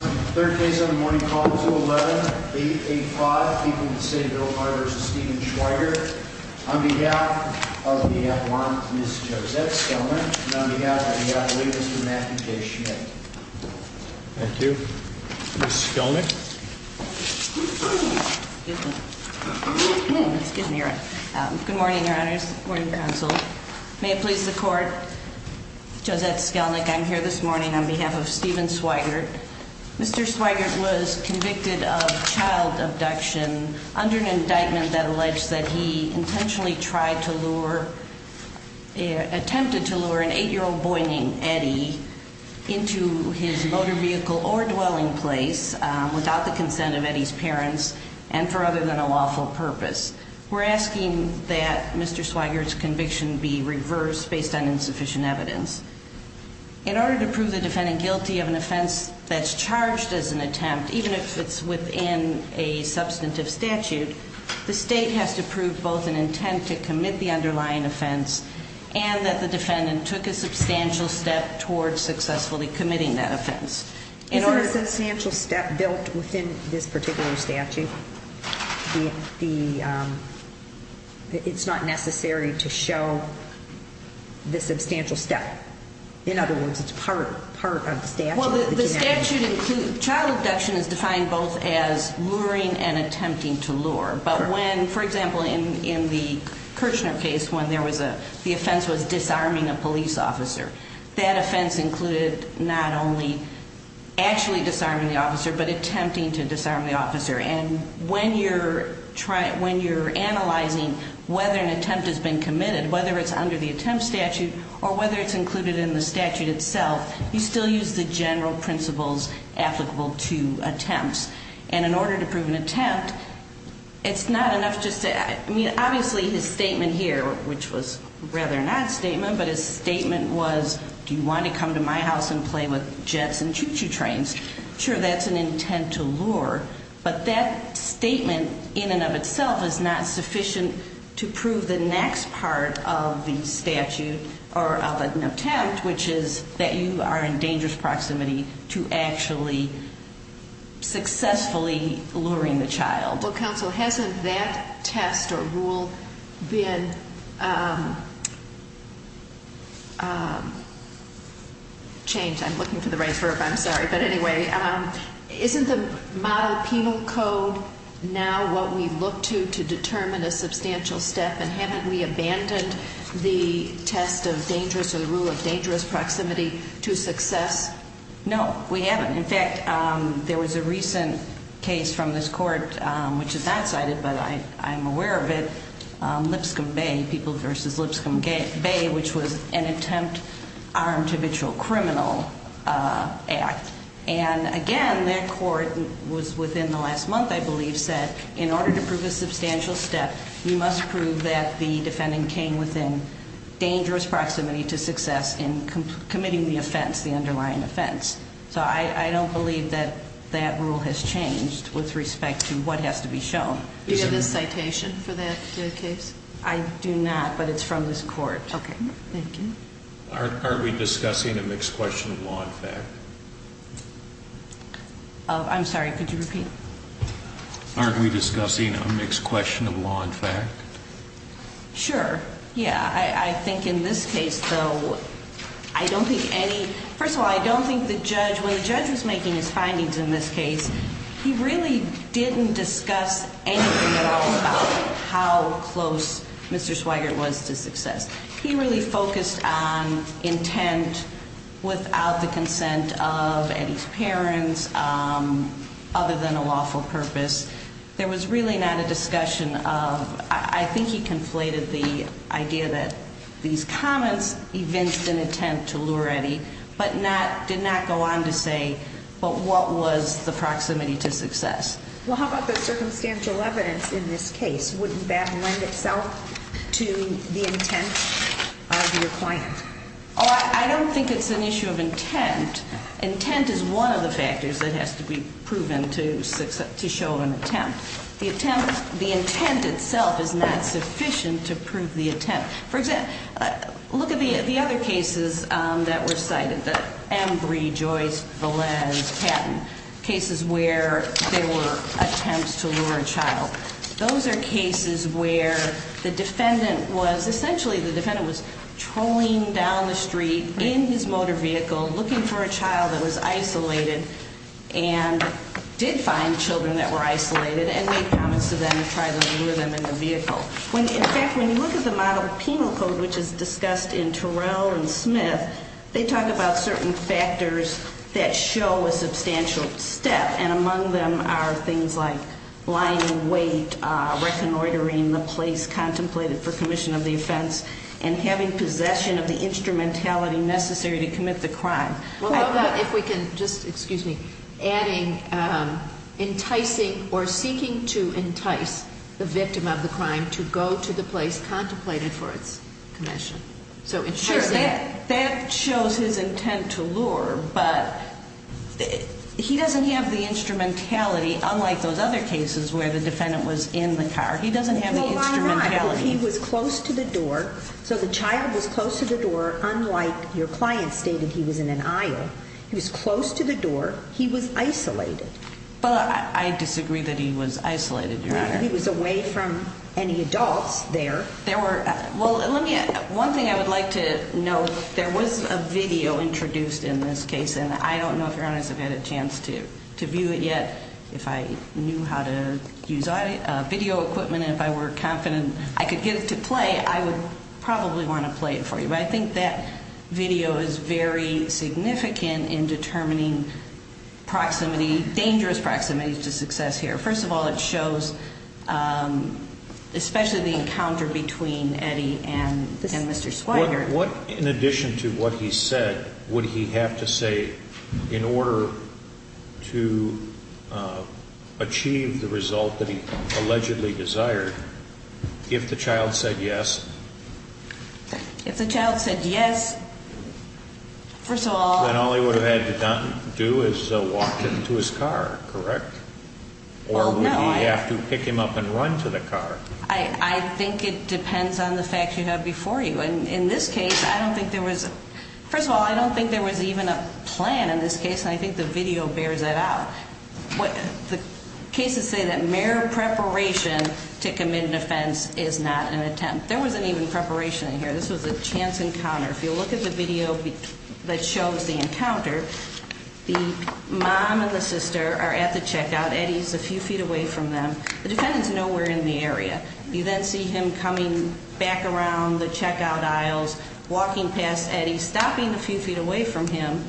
Third case on the morning call is 011-885, people in the city of Biltmore v. Stephen Sweigart on behalf of the warrant, Ms. Josette Skelnick, and on behalf of the attorney, Mr. Matthew K. Schmidt. Thank you. Ms. Skelnick? Good morning, your honors, morning, counsel. May it please the court, Josette Skelnick, I'm here this morning on behalf of Stephen Sweigart Mr. Sweigart was convicted of child abduction under an indictment that alleged that he intentionally tried to lure attempted to lure an 8-year-old boy named Eddie into his motor vehicle or dwelling place without the consent of Eddie's parents and for other than a lawful purpose. We're asking that Mr. Sweigart's conviction be reversed based on insufficient evidence. In order to prove the defendant guilty of an offense that's charged as an attempt, even if it's within a substantive statute, the state has to prove both an intent to commit the underlying offense and that the defendant took a substantial step towards successfully committing that offense. Isn't a substantial step built within this particular statute? It's not necessary to show the substantial step? In other words, it's part of the statute? Well, the statute includes, child abduction is defined both as luring and attempting to lure. But when, for example, in the Kirchner case, when the offense was disarming a police officer, that offense included not only actually disarming the officer, but attempting to disarm the officer. And when you're analyzing whether an attempt has been committed, whether it's under the attempt statute or whether it's included in the statute itself, you still use the general principles applicable to attempts. And in order to prove an attempt, it's not enough just to... I mean, obviously, his statement here, which was rather an odd statement, but his statement was, do you want to come to my house and play with jets and choo-choo trains? Sure, that's an intent to lure. But that statement in and of itself is not sufficient to prove the next part of the statute or of an attempt, which is that you are in dangerous proximity to actually successfully luring the child. Well, counsel, hasn't that test or rule been changed? I'm looking for the right verb, I'm sorry. But anyway, isn't the model penal code now what we look to to determine a substantial step? And haven't we abandoned the test of dangerous or the rule of dangerous proximity to success? No, we haven't. In fact, there was a recent case from this court, which is not cited, but I'm aware of it, Lipscomb Bay, People v. Lipscomb Bay, which was an attempt armed habitual criminal act. And again, that court was within the last month, I believe, said, in order to prove a substantial step, you must prove that the defendant came within dangerous proximity to success in committing the offense, the underlying offense. So I don't believe that that rule has changed with respect to what has to be shown. Do you have a citation for that case? I do not, but it's from this court. Okay, thank you. Aren't we discussing a mixed question of law and fact? I'm sorry, could you repeat? Aren't we discussing a mixed question of law and fact? Sure, yeah. I think in this case, though, I don't think any, first of all, I don't think the judge, when the judge was making his findings in this case, he really didn't discuss anything at all about how close Mr. Swigert was to success. He really focused on intent without the consent of Eddie's parents, other than a lawful purpose. There was really not a discussion of, I think he conflated the idea that these comments evinced an intent to lure Eddie, but did not go on to say, but what was the proximity to success? Well, how about the circumstantial evidence in this case? Wouldn't that lend itself to the intent of your client? Oh, I don't think it's an issue of intent. Intent is one of the factors that has to be proven to show an attempt. The intent itself is not sufficient to prove the attempt. For example, look at the other cases that were cited, Embry, Joyce, Valens, Patton, cases where there were attempts to lure a child. Those are cases where the defendant was, essentially the defendant was trolling down the street in his motor vehicle, looking for a child that was isolated, and did find children that were isolated, and made comments to them to try to lure them in the vehicle. In fact, when you look at the model penal code, which is discussed in Terrell and Smith, they talk about certain factors that show a substantial step, and among them are things like lying in wait, reconnoitering the place contemplated for commission of the offense, and having possession of the instrumentality necessary to commit the crime. Well, how about if we can just, excuse me, adding enticing or seeking to entice the victim of the crime to go to the place contemplated for its commission? Sure, that shows his intent to lure, but he doesn't have the instrumentality, unlike those other cases where the defendant was in the car. He doesn't have the instrumentality. Well, Your Honor, he was close to the door, so the child was close to the door, unlike your client stated he was in an aisle. He was close to the door, he was isolated. But I disagree that he was isolated, Your Honor. He was away from any adults there. Well, one thing I would like to note, there was a video introduced in this case, and I don't know if Your Honor has had a chance to view it yet. If I knew how to use video equipment and if I were confident I could get it to play, I would probably want to play it for you. But I think that video is very significant in determining proximity, dangerous proximity to success here. First of all, it shows especially the encounter between Eddie and Mr. Swiger. In addition to what he said, would he have to say in order to achieve the result that he allegedly desired, if the child said yes? If the child said yes, first of all. Then all he would have had to do is walk him to his car, correct? Or would he have to pick him up and run to the car? I think it depends on the facts you have before you. And in this case, I don't think there was, first of all, I don't think there was even a plan in this case, and I think the video bears that out. The cases say that mere preparation to commit an offense is not an attempt. There wasn't even preparation in here. This was a chance encounter. If you look at the video that shows the encounter, the mom and the sister are at the checkout. Eddie's a few feet away from them. The defendants know we're in the area. You then see him coming back around the checkout aisles, walking past Eddie, stopping a few feet away from him,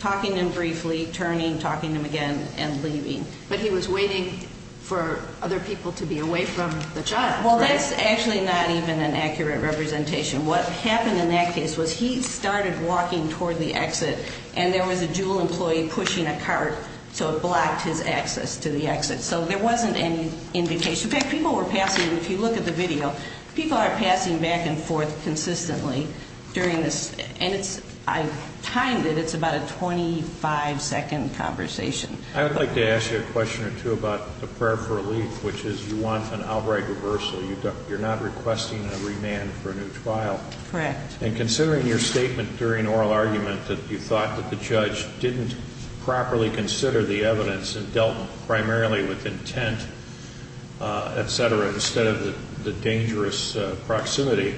talking to him briefly, turning, talking to him again, and leaving. But he was waiting for other people to be away from the child. Well, that's actually not even an accurate representation. What happened in that case was he started walking toward the exit, and there was a JUUL employee pushing a cart, so it blocked his access to the exit. So there wasn't any indication. In fact, people were passing, if you look at the video, people are passing back and forth consistently during this. And I timed it. It's about a 25-second conversation. I would like to ask you a question or two about the prayer for relief, which is you want an outright reversal. You're not requesting a remand for a new trial. Correct. And considering your statement during oral argument that you thought that the judge didn't properly consider the evidence and dealt primarily with intent, et cetera, instead of the dangerous proximity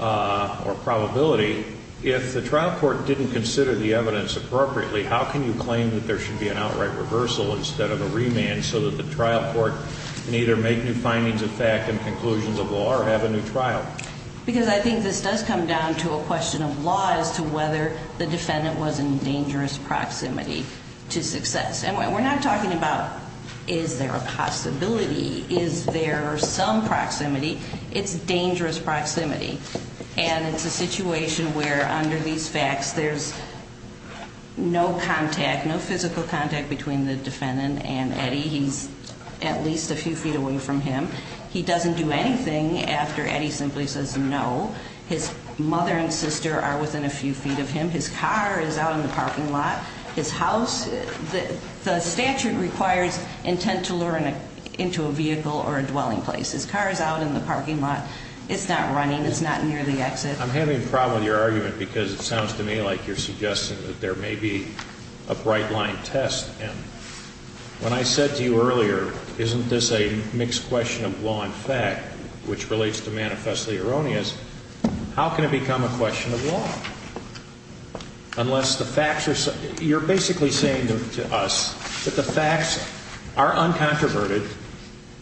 or probability, if the trial court didn't consider the evidence appropriately, how can you claim that there should be an outright reversal instead of a remand so that the trial court can either make new findings of fact and conclusions of law or have a new trial? Because I think this does come down to a question of law as to whether the defendant was in dangerous proximity to success. And we're not talking about is there a possibility, is there some proximity. It's dangerous proximity. And it's a situation where under these facts there's no contact, no physical contact between the defendant and Eddie. He's at least a few feet away from him. He doesn't do anything after Eddie simply says no. His mother and sister are within a few feet of him. His car is out in the parking lot. His house, the statute requires intent to lure him into a vehicle or a dwelling place. His car is out in the parking lot. It's not running. It's not near the exit. I'm having a problem with your argument because it sounds to me like you're suggesting that there may be a bright-line test. And when I said to you earlier, isn't this a mixed question of law and fact, which relates to manifestly erroneous, how can it become a question of law unless the facts are, you're basically saying to us that the facts are uncontroverted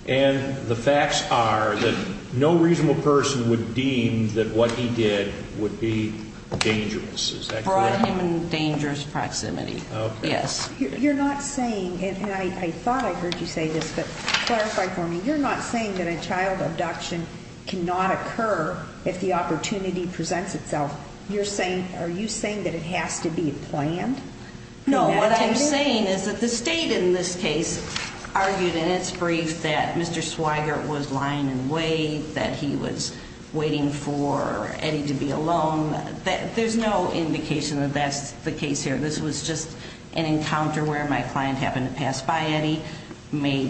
and the facts are that no reasonable person would deem that what he did would be dangerous. Is that correct? Brought him in dangerous proximity. Okay. Yes. You're not saying, and I thought I heard you say this, but clarify for me. You're not saying that a child abduction cannot occur if the opportunity presents itself. You're saying, are you saying that it has to be planned? No, what I'm saying is that the state in this case argued in its brief that Mr. Swigert was lying in wait, that he was waiting for Eddie to be alone. There's no indication that that's the case here. This was just an encounter where my client happened to pass by Eddie, made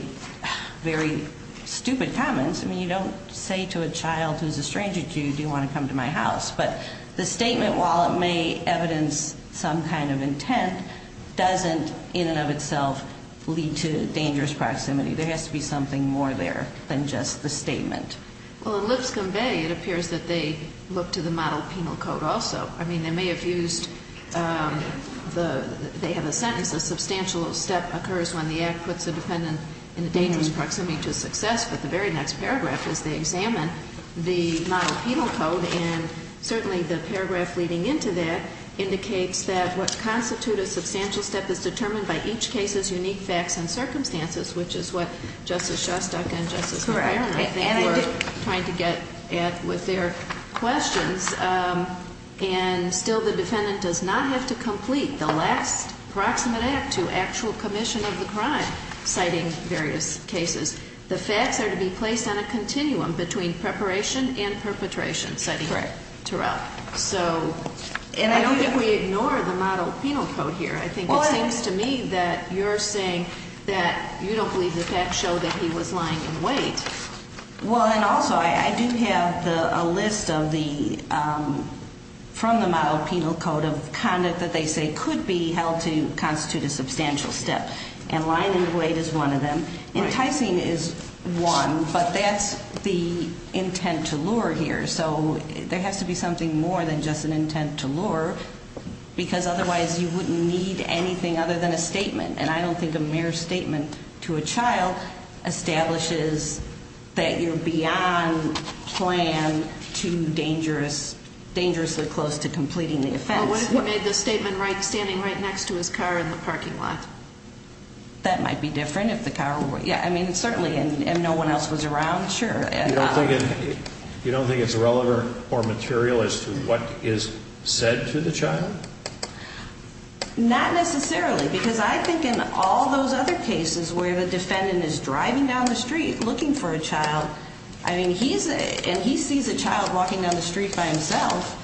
very stupid comments. I mean, you don't say to a child who's a stranger to you, do you want to come to my house? But the statement, while it may evidence some kind of intent, doesn't in and of itself lead to dangerous proximity. There has to be something more there than just the statement. Well, in Lipscomb Bay, it appears that they look to the model penal code also. I mean, they may have used the, they have a sentence, a substantial step occurs when the act puts a dependent in a dangerous proximity to success, but the very next paragraph is they examine the model penal code, and certainly the paragraph leading into that indicates that what constitutes a substantial step is determined by each case's unique facts and circumstances, which is what Justice Shostak and Justice McFerrin, I think, were trying to get at with their questions. And still the defendant does not have to complete the last proximate act to actual commission of the crime, citing various cases. The facts are to be placed on a continuum between preparation and perpetration, citing Turrell. So I don't think we ignore the model penal code here. I think it seems to me that you're saying that you don't believe the facts show that he was lying in wait. Well, and also I do have a list of the, from the model penal code, of conduct that they say could be held to constitute a substantial step, and lying in wait is one of them. Enticing is one, but that's the intent to lure here. So there has to be something more than just an intent to lure, because otherwise you wouldn't need anything other than a statement. And I don't think a mere statement to a child establishes that you're beyond plan to dangerously close to completing the offense. What if you made the statement standing right next to his car in the parking lot? That might be different if the car were, yeah, I mean, certainly, and no one else was around, sure. You don't think it's relevant or material as to what is said to the child? Not necessarily, because I think in all those other cases where the defendant is driving down the street looking for a child, I mean, he's, and he sees a child walking down the street by himself,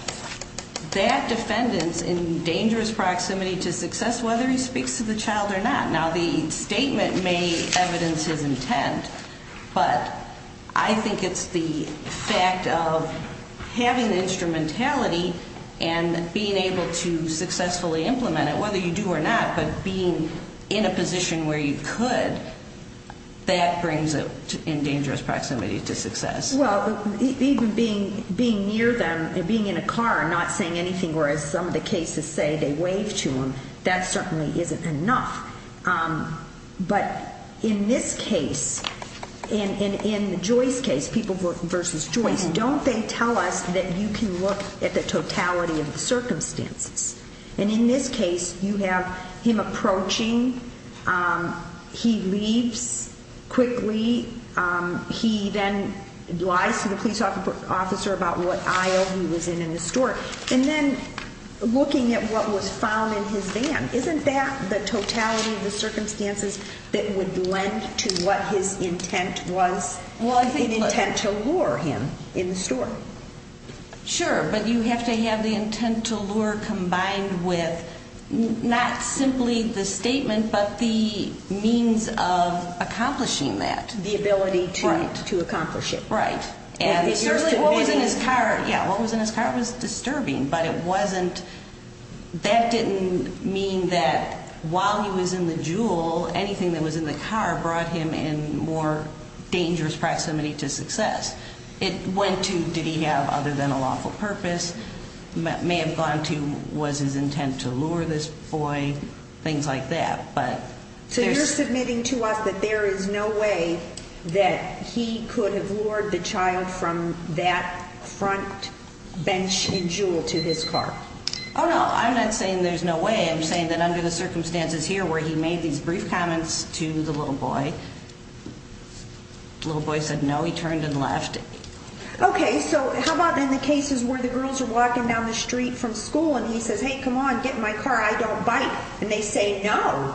that defendant's in dangerous proximity to success whether he speaks to the child or not. Now, the statement may evidence his intent, but I think it's the fact of having the instrumentality and being able to successfully implement it, whether you do or not, but being in a position where you could, that brings it in dangerous proximity to success. Well, even being near them and being in a car and not saying anything, whereas some of the cases say they waved to him, that certainly isn't enough. But in this case, in Joyce's case, people versus Joyce, don't they tell us that you can look at the totality of the circumstances? And in this case, you have him approaching, he leaves quickly, he then lies to the police officer about what aisle he was in in the store, and then looking at what was found in his van. Isn't that the totality of the circumstances that would lend to what his intent was, an intent to lure him in the store? Sure, but you have to have the intent to lure combined with not simply the statement, but the means of accomplishing that. The ability to accomplish it. Right. And certainly what was in his car, yeah, what was in his car was disturbing, but it wasn't, that didn't mean that while he was in the jewel, anything that was in the car brought him in more dangerous proximity to success. It went to, did he have other than a lawful purpose, may have gone to, was his intent to lure this boy, things like that. So you're submitting to us that there is no way that he could have lured the child from that front bench in Jewel to his car? Oh, no, I'm not saying there's no way. I'm saying that under the circumstances here where he made these brief comments to the little boy, little boy said no, he turned and left. Okay, so how about in the cases where the girls are walking down the street from school and he says, hey, come on, get in my car, I don't bite. And they say no.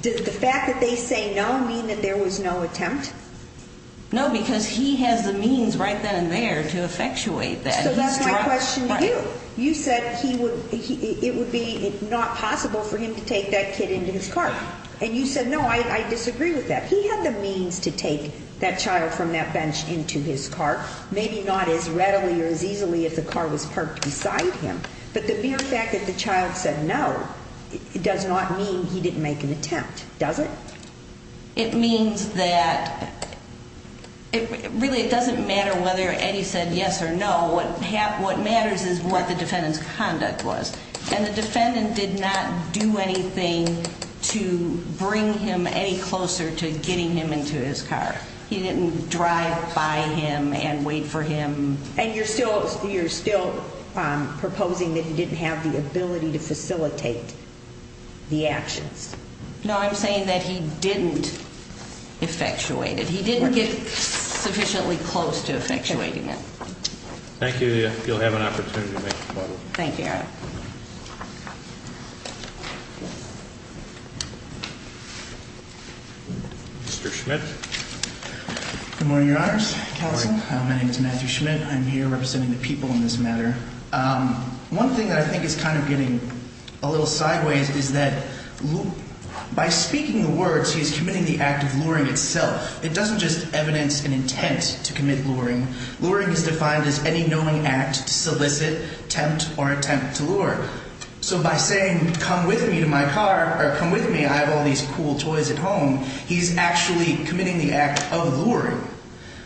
Does the fact that they say no mean that there was no attempt? No, because he has the means right then and there to effectuate that. So that's my question to you. You said he would, it would be not possible for him to take that kid into his car. And you said, no, I disagree with that. He had the means to take that child from that bench into his car, maybe not as readily or as easily if the car was parked beside him. But the mere fact that the child said no does not mean he didn't make an attempt, does it? It means that it really doesn't matter whether Eddie said yes or no. What matters is what the defendant's conduct was. And the defendant did not do anything to bring him any closer to getting him into his car. He didn't drive by him and wait for him. And you're still proposing that he didn't have the ability to facilitate the actions? No, I'm saying that he didn't effectuate it. He didn't get sufficiently close to effectuating it. Okay. Thank you. You'll have an opportunity to make a point of it. Thank you. Mr. Schmidt. Good morning, Your Honors. Good morning. My name is Matthew Schmidt. I'm here representing the people in this matter. One thing that I think is kind of getting a little sideways is that by speaking the words, he's committing the act of luring itself. It doesn't just evidence an intent to commit luring. Luring is defined as any knowing act to solicit, tempt, or attempt to lure. So by saying, come with me to my car, or come with me, I have all these cool toys at home, he's actually committing the act of luring.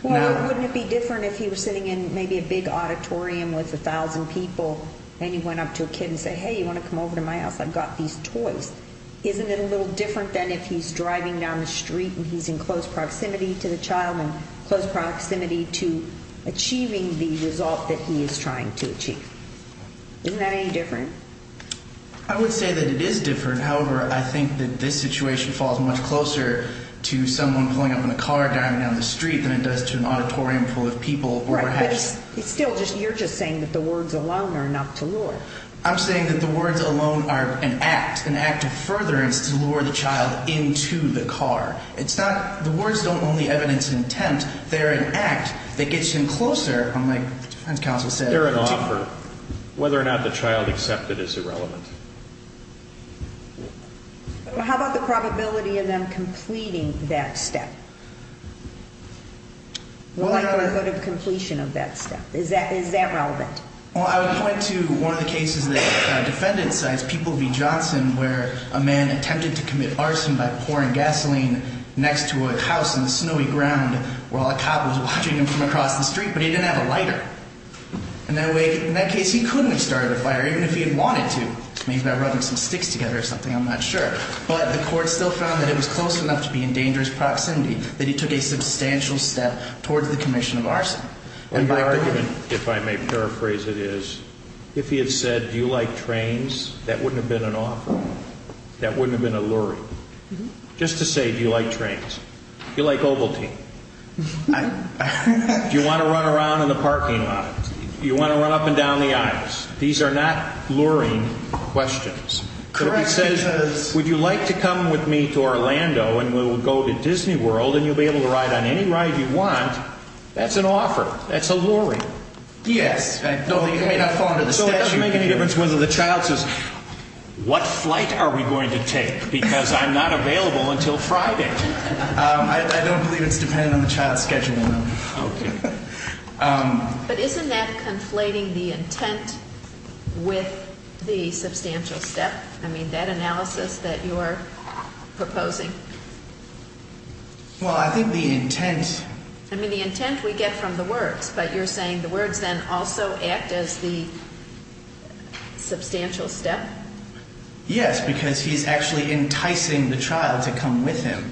Well, wouldn't it be different if he was sitting in maybe a big auditorium with 1,000 people and he went up to a kid and said, hey, you want to come over to my house? I've got these toys. Isn't it a little different than if he's driving down the street and he's in close proximity to the child and close proximity to achieving the result that he is trying to achieve? Isn't that any different? I would say that it is different. However, I think that this situation falls much closer to someone pulling up in a car driving down the street than it does to an auditorium full of people. Right, but it's still just you're just saying that the words alone are enough to lure. I'm saying that the words alone are an act, an act of furtherance to lure the child into the car. It's not, the words don't only evidence an attempt, they're an act that gets him closer, like the defense counsel said. They're an offer. Whether or not the child accepts it is irrelevant. How about the probability of them completing that step? The likelihood of completion of that step, is that relevant? Well, I would point to one of the cases that a defendant signs, People v. Johnson, where a man attempted to commit arson by pouring gasoline next to a house on the snowy ground while a cop was watching him from across the street, but he didn't have a lighter. In that case, he couldn't have started a fire, even if he had wanted to. Maybe by rubbing some sticks together or something, I'm not sure. But the court still found that it was close enough to be in dangerous proximity that he took a substantial step towards the commission of arson. And your argument, if I may paraphrase it is, if he had said, do you like trains, that wouldn't have been an offer. That wouldn't have been a luring. Just to say, do you like trains? Do you like Ovaltine? Do you want to run around in the parking lot? Do you want to run up and down the aisles? These are not luring questions. Correct it is. Would you like to come with me to Orlando and we'll go to Disney World and you'll be able to ride on any ride you want. That's an offer. That's a luring. Yes. So it doesn't make any difference whether the child says, what flight are we going to take? Because I'm not available until Friday. I don't believe it's dependent on the child's schedule. Okay. But isn't that conflating the intent with the substantial step? I mean, that analysis that you're proposing. Well, I think the intent. I mean, the intent we get from the words. But you're saying the words then also act as the substantial step? Yes, because he's actually enticing the child to come with him.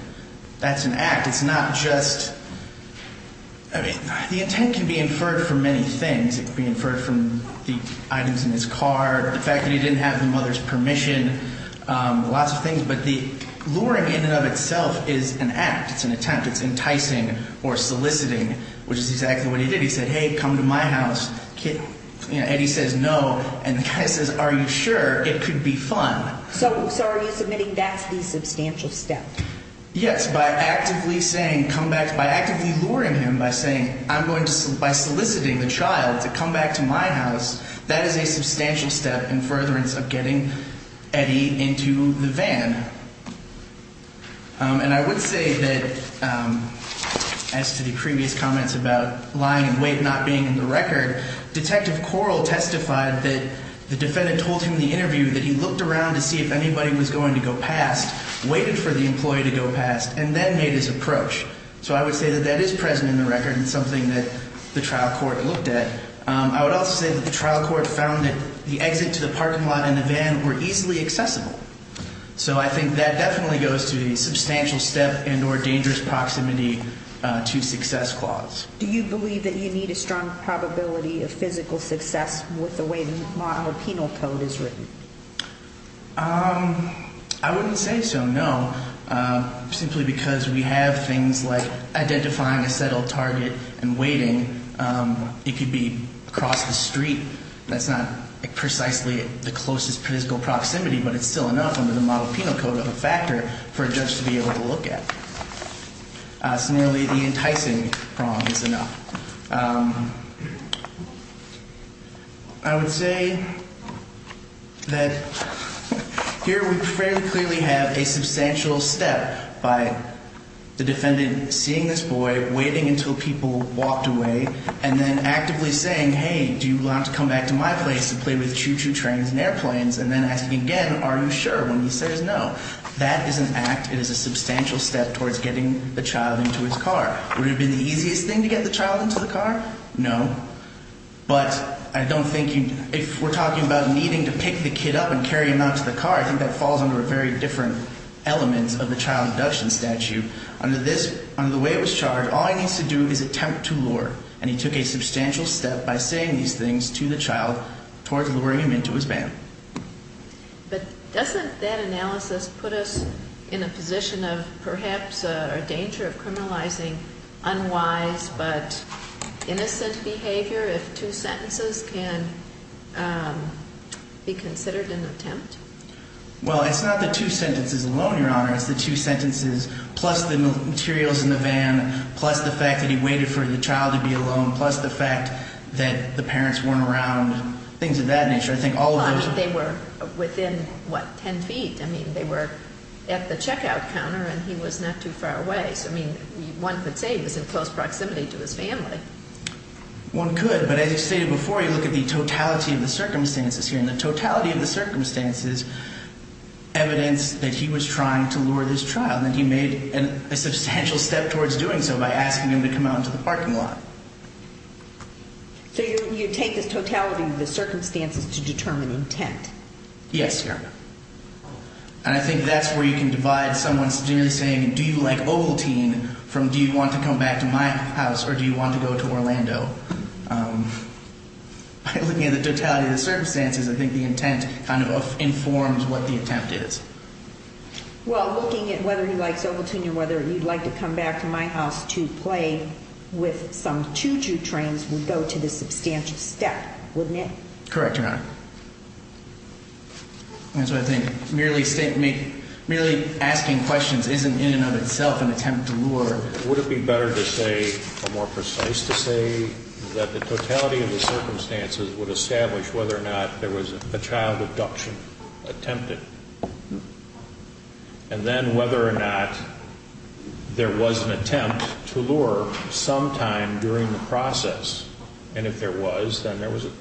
That's an act. It's not just, I mean, the intent can be inferred from many things. It can be inferred from the items in his car, the fact that he didn't have the mother's permission, lots of things. But the luring in and of itself is an act. It's an attempt. It's enticing or soliciting, which is exactly what he did. He said, hey, come to my house. And he says no. And the guy says, are you sure? It could be fun. So are you submitting that's the substantial step? Yes, by actively saying come back, by actively luring him, by saying I'm going to, by soliciting the child to come back to my house. That is a substantial step in furtherance of getting Eddie into the van. And I would say that as to the previous comments about lying and weight not being in the record, Detective Corl testified that the defendant told him in the interview that he looked around to see if anybody was going to go past, waited for the employee to go past, and then made his approach. So I would say that that is present in the record and something that the trial court looked at. I would also say that the trial court found that the exit to the parking lot and the van were easily accessible. So I think that definitely goes to the substantial step and or dangerous proximity to success clause. Do you believe that you need a strong probability of physical success with the way the model penal code is written? I wouldn't say so, no. Simply because we have things like identifying a settled target and waiting. It could be across the street. That's not precisely the closest physical proximity, but it's still enough under the model penal code of a factor for a judge to be able to look at. It's nearly the enticing prong is enough. I would say that here we fairly clearly have a substantial step by the defendant seeing this boy, waiting until people walked away, and then actively saying, hey, do you want to come back to my place to play with choo-choo trains and airplanes? And then asking again, are you sure? When he says no, that is an act. That is a substantial step towards getting the child into his car. Would it have been the easiest thing to get the child into the car? No. But I don't think you ñ if we're talking about needing to pick the kid up and carry him out to the car, I think that falls under a very different element of the child abduction statute. Under this ñ under the way it was charged, all he needs to do is attempt to lure. And he took a substantial step by saying these things to the child towards luring him into his van. But doesn't that analysis put us in a position of perhaps a danger of criminalizing unwise but innocent behavior if two sentences can be considered an attempt? Well, it's not the two sentences alone, Your Honor. It's the two sentences plus the materials in the van, plus the fact that he waited for the child to be alone, plus the fact that the parents weren't around, things of that nature. I think all of those ñ They were within, what, 10 feet. I mean, they were at the checkout counter and he was not too far away. So, I mean, one could say he was in close proximity to his family. One could. But as you stated before, you look at the totality of the circumstances here. And the totality of the circumstances evidence that he was trying to lure this child. And he made a substantial step towards doing so by asking him to come out into the parking lot. So you take the totality of the circumstances to determine intent? Yes, Your Honor. And I think that's where you can divide someone's generally saying, do you like Ovaltine from do you want to come back to my house or do you want to go to Orlando? By looking at the totality of the circumstances, I think the intent kind of informs what the attempt is. Well, looking at whether he likes Ovaltine or whether you'd like to come back to my house to play with some choo-choo trains would go to the substantial step, wouldn't it? Correct, Your Honor. That's what I think. Merely asking questions isn't in and of itself an attempt to lure. Would it be better to say, or more precise to say, that the totality of the circumstances would establish whether or not there was a child abduction attempted? And then whether or not there was an attempt to lure sometime during the process. And if there was, then there was a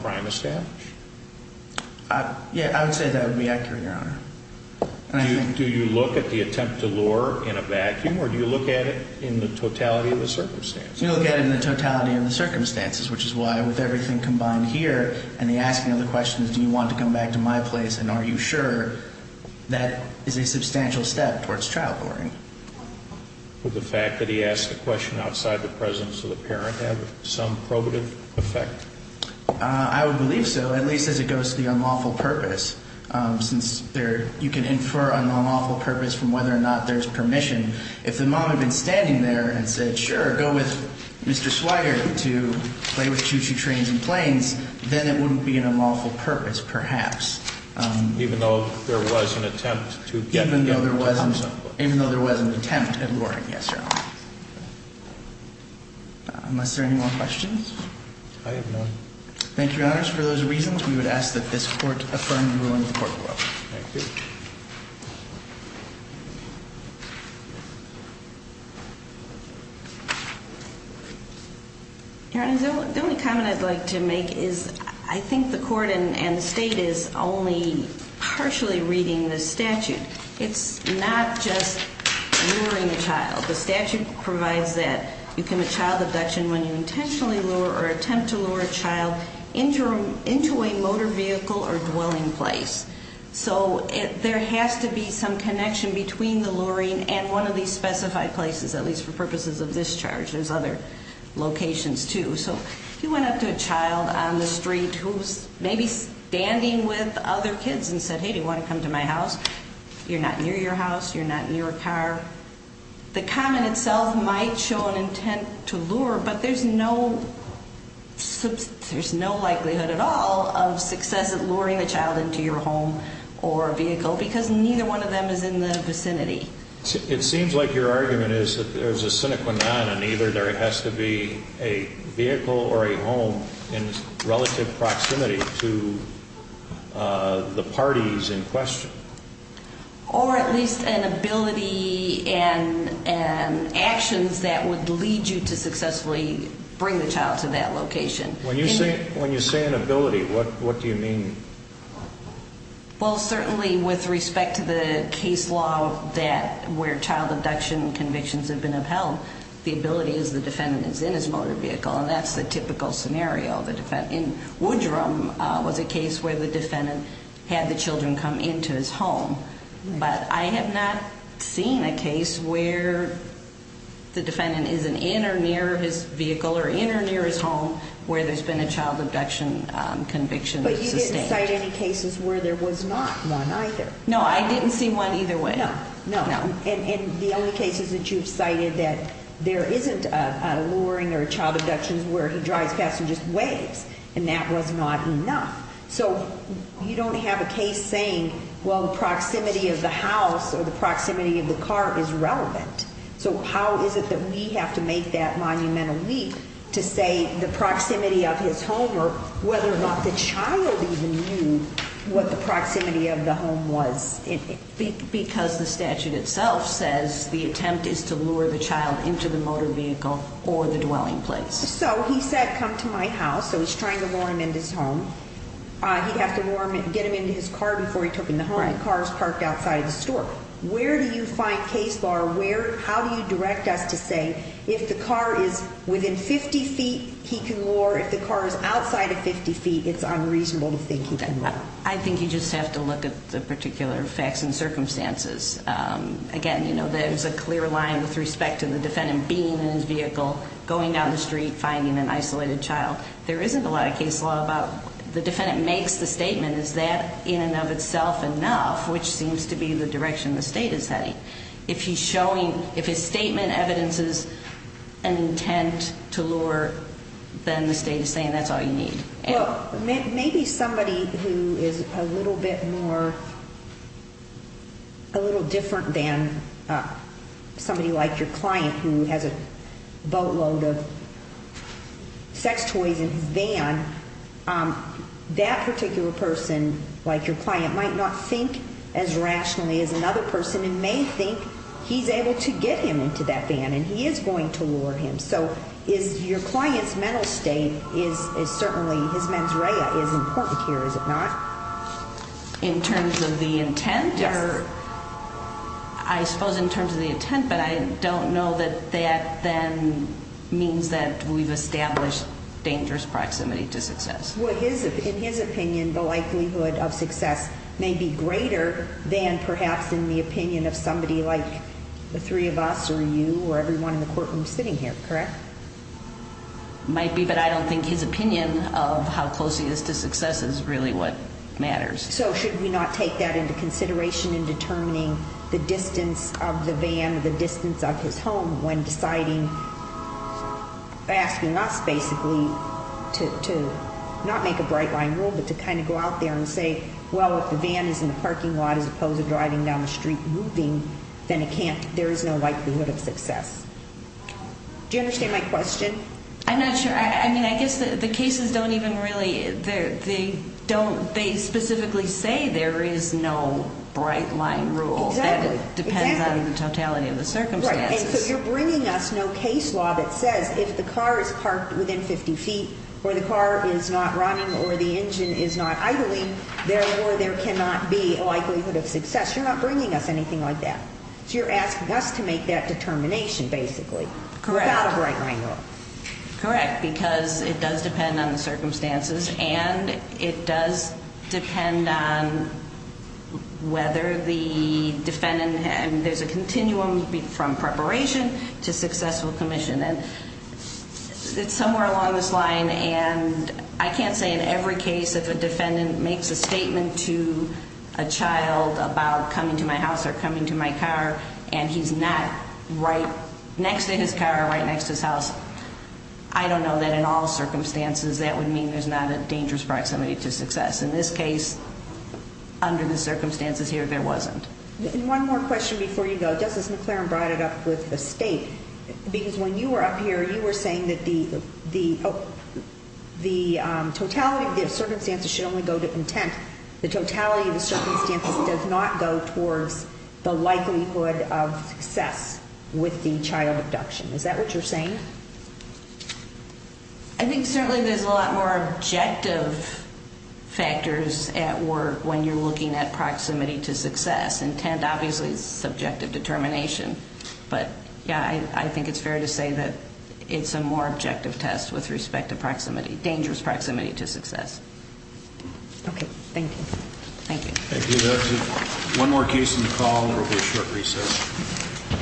crime established? Yeah, I would say that would be accurate, Your Honor. Do you look at the attempt to lure in a vacuum or do you look at it in the totality of the circumstances? You look at it in the totality of the circumstances, which is why with everything combined here and the asking of the questions, do you want to come back to my place and are you sure, that is a substantial step towards child luring. Would the fact that he asked a question outside the presence of the parent have some probative effect? I would believe so, at least as it goes to the unlawful purpose, since you can infer an unlawful purpose from whether or not there's permission. If the mom had been standing there and said, sure, go with Mr. Swire to play with choo-choo trains and planes, then it wouldn't be an unlawful purpose, perhaps. Even though there was an attempt to get him to talk? Even though there was an attempt at luring, yes, Your Honor. Unless there are any more questions? I have none. Thank you, Your Honors. For those reasons, we would ask that this Court affirm the ruling of the Court of Appeals. Thank you. Your Honor, the only comment I'd like to make is, I think the Court and the State is only partially reading this statute. It's not just luring a child. The statute provides that you commit child abduction when you intentionally lure or attempt to lure a child into a motor vehicle or dwelling place. So there has to be some connection between the luring and one of these specified places, at least for purposes of discharge. There's other locations, too. So if you went up to a child on the street who was maybe standing with other kids and said, hey, do you want to come to my house? You're not near your house. You're not near a car. The comment itself might show an intent to lure, but there's no likelihood at all of success at luring a child into your home or vehicle because neither one of them is in the vicinity. It seems like your argument is that there's a sine qua non and either there has to be a vehicle or a home in relative proximity to the parties in question. Or at least an ability and actions that would lead you to successfully bring the child to that location. When you say an ability, what do you mean? Well, certainly with respect to the case law where child abduction convictions have been upheld, the ability is the defendant is in his motor vehicle, and that's the typical scenario. In Woodrum was a case where the defendant had the children come into his home. But I have not seen a case where the defendant is in or near his vehicle or in or near his home where there's been a child abduction conviction sustained. But you didn't cite any cases where there was not one either? No, I didn't see one either way. No, and the only cases that you've cited that there isn't a luring or a child abduction where he drives past and just waves, and that was not enough. So you don't have a case saying, well, the proximity of the house or the proximity of the car is relevant. So how is it that we have to make that monumental leap to say the proximity of his home or whether or not the child even knew what the proximity of the home was? Because the statute itself says the attempt is to lure the child into the motor vehicle or the dwelling place. So he said, come to my house. So he's trying to lure him into his home. He'd have to get him into his car before he took him to the home. The car is parked outside of the store. Where do you find case law or how do you direct us to say if the car is within 50 feet, he can lure, if the car is outside of 50 feet, it's unreasonable to think he can lure? I think you just have to look at the particular facts and circumstances. Again, there's a clear line with respect to the defendant being in his vehicle, going down the street, finding an isolated child. There isn't a lot of case law about the defendant makes the statement, is that in and of itself enough, which seems to be the direction the state is heading. If his statement evidences an intent to lure, then the state is saying that's all you need. Well, maybe somebody who is a little bit more, a little different than somebody like your client who has a boatload of sex toys in his van, that particular person, like your client, might not think as rationally as another person and may think he's able to get him into that van and he is going to lure him. Your client's mental state is certainly, his mens rea is important here, is it not? In terms of the intent? Yes. I suppose in terms of the intent, but I don't know that that then means that we've established dangerous proximity to success. In his opinion, the likelihood of success may be greater than perhaps in the opinion of somebody like the three of us or you or everyone in the courtroom sitting here, correct? Might be, but I don't think his opinion of how close he is to success is really what matters. So should we not take that into consideration in determining the distance of the van, the distance of his home when deciding, asking us basically to not make a bright line rule, but to kind of go out there and say, well, if the van is in the parking lot as opposed to driving down the street moving, then it can't, there is no likelihood of success. I'm not sure, I mean, I guess the cases don't even really, they specifically say there is no bright line rule. Exactly. That it depends on the totality of the circumstances. Right, and so you're bringing us no case law that says if the car is parked within 50 feet or the car is not running or the engine is not idling, therefore there cannot be a likelihood of success. You're not bringing us anything like that. So you're asking us to make that determination basically. Correct. Without a bright line rule. Correct, because it does depend on the circumstances and it does depend on whether the defendant, and there's a continuum from preparation to successful commission. It's somewhere along this line and I can't say in every case if a defendant makes a statement to a child about coming to my house or coming to my car and he's not right next to his car or right next to his house, I don't know that in all circumstances that would mean there's not a dangerous proximity to success. In this case, under the circumstances here, there wasn't. And one more question before you go. Justice McClaren brought it up with the state, because when you were up here, you were saying that the totality of the circumstances should only go to intent. The totality of the circumstances does not go towards the likelihood of success with the child abduction. Is that what you're saying? I think certainly there's a lot more objective factors at work when you're looking at proximity to success. Intent obviously is subjective determination, but yeah, I think it's fair to say that it's a more objective test with respect to proximity, dangerous proximity to success. Okay. Thank you. Thank you. Thank you. That's it. One more case on the call and we'll do a short recess.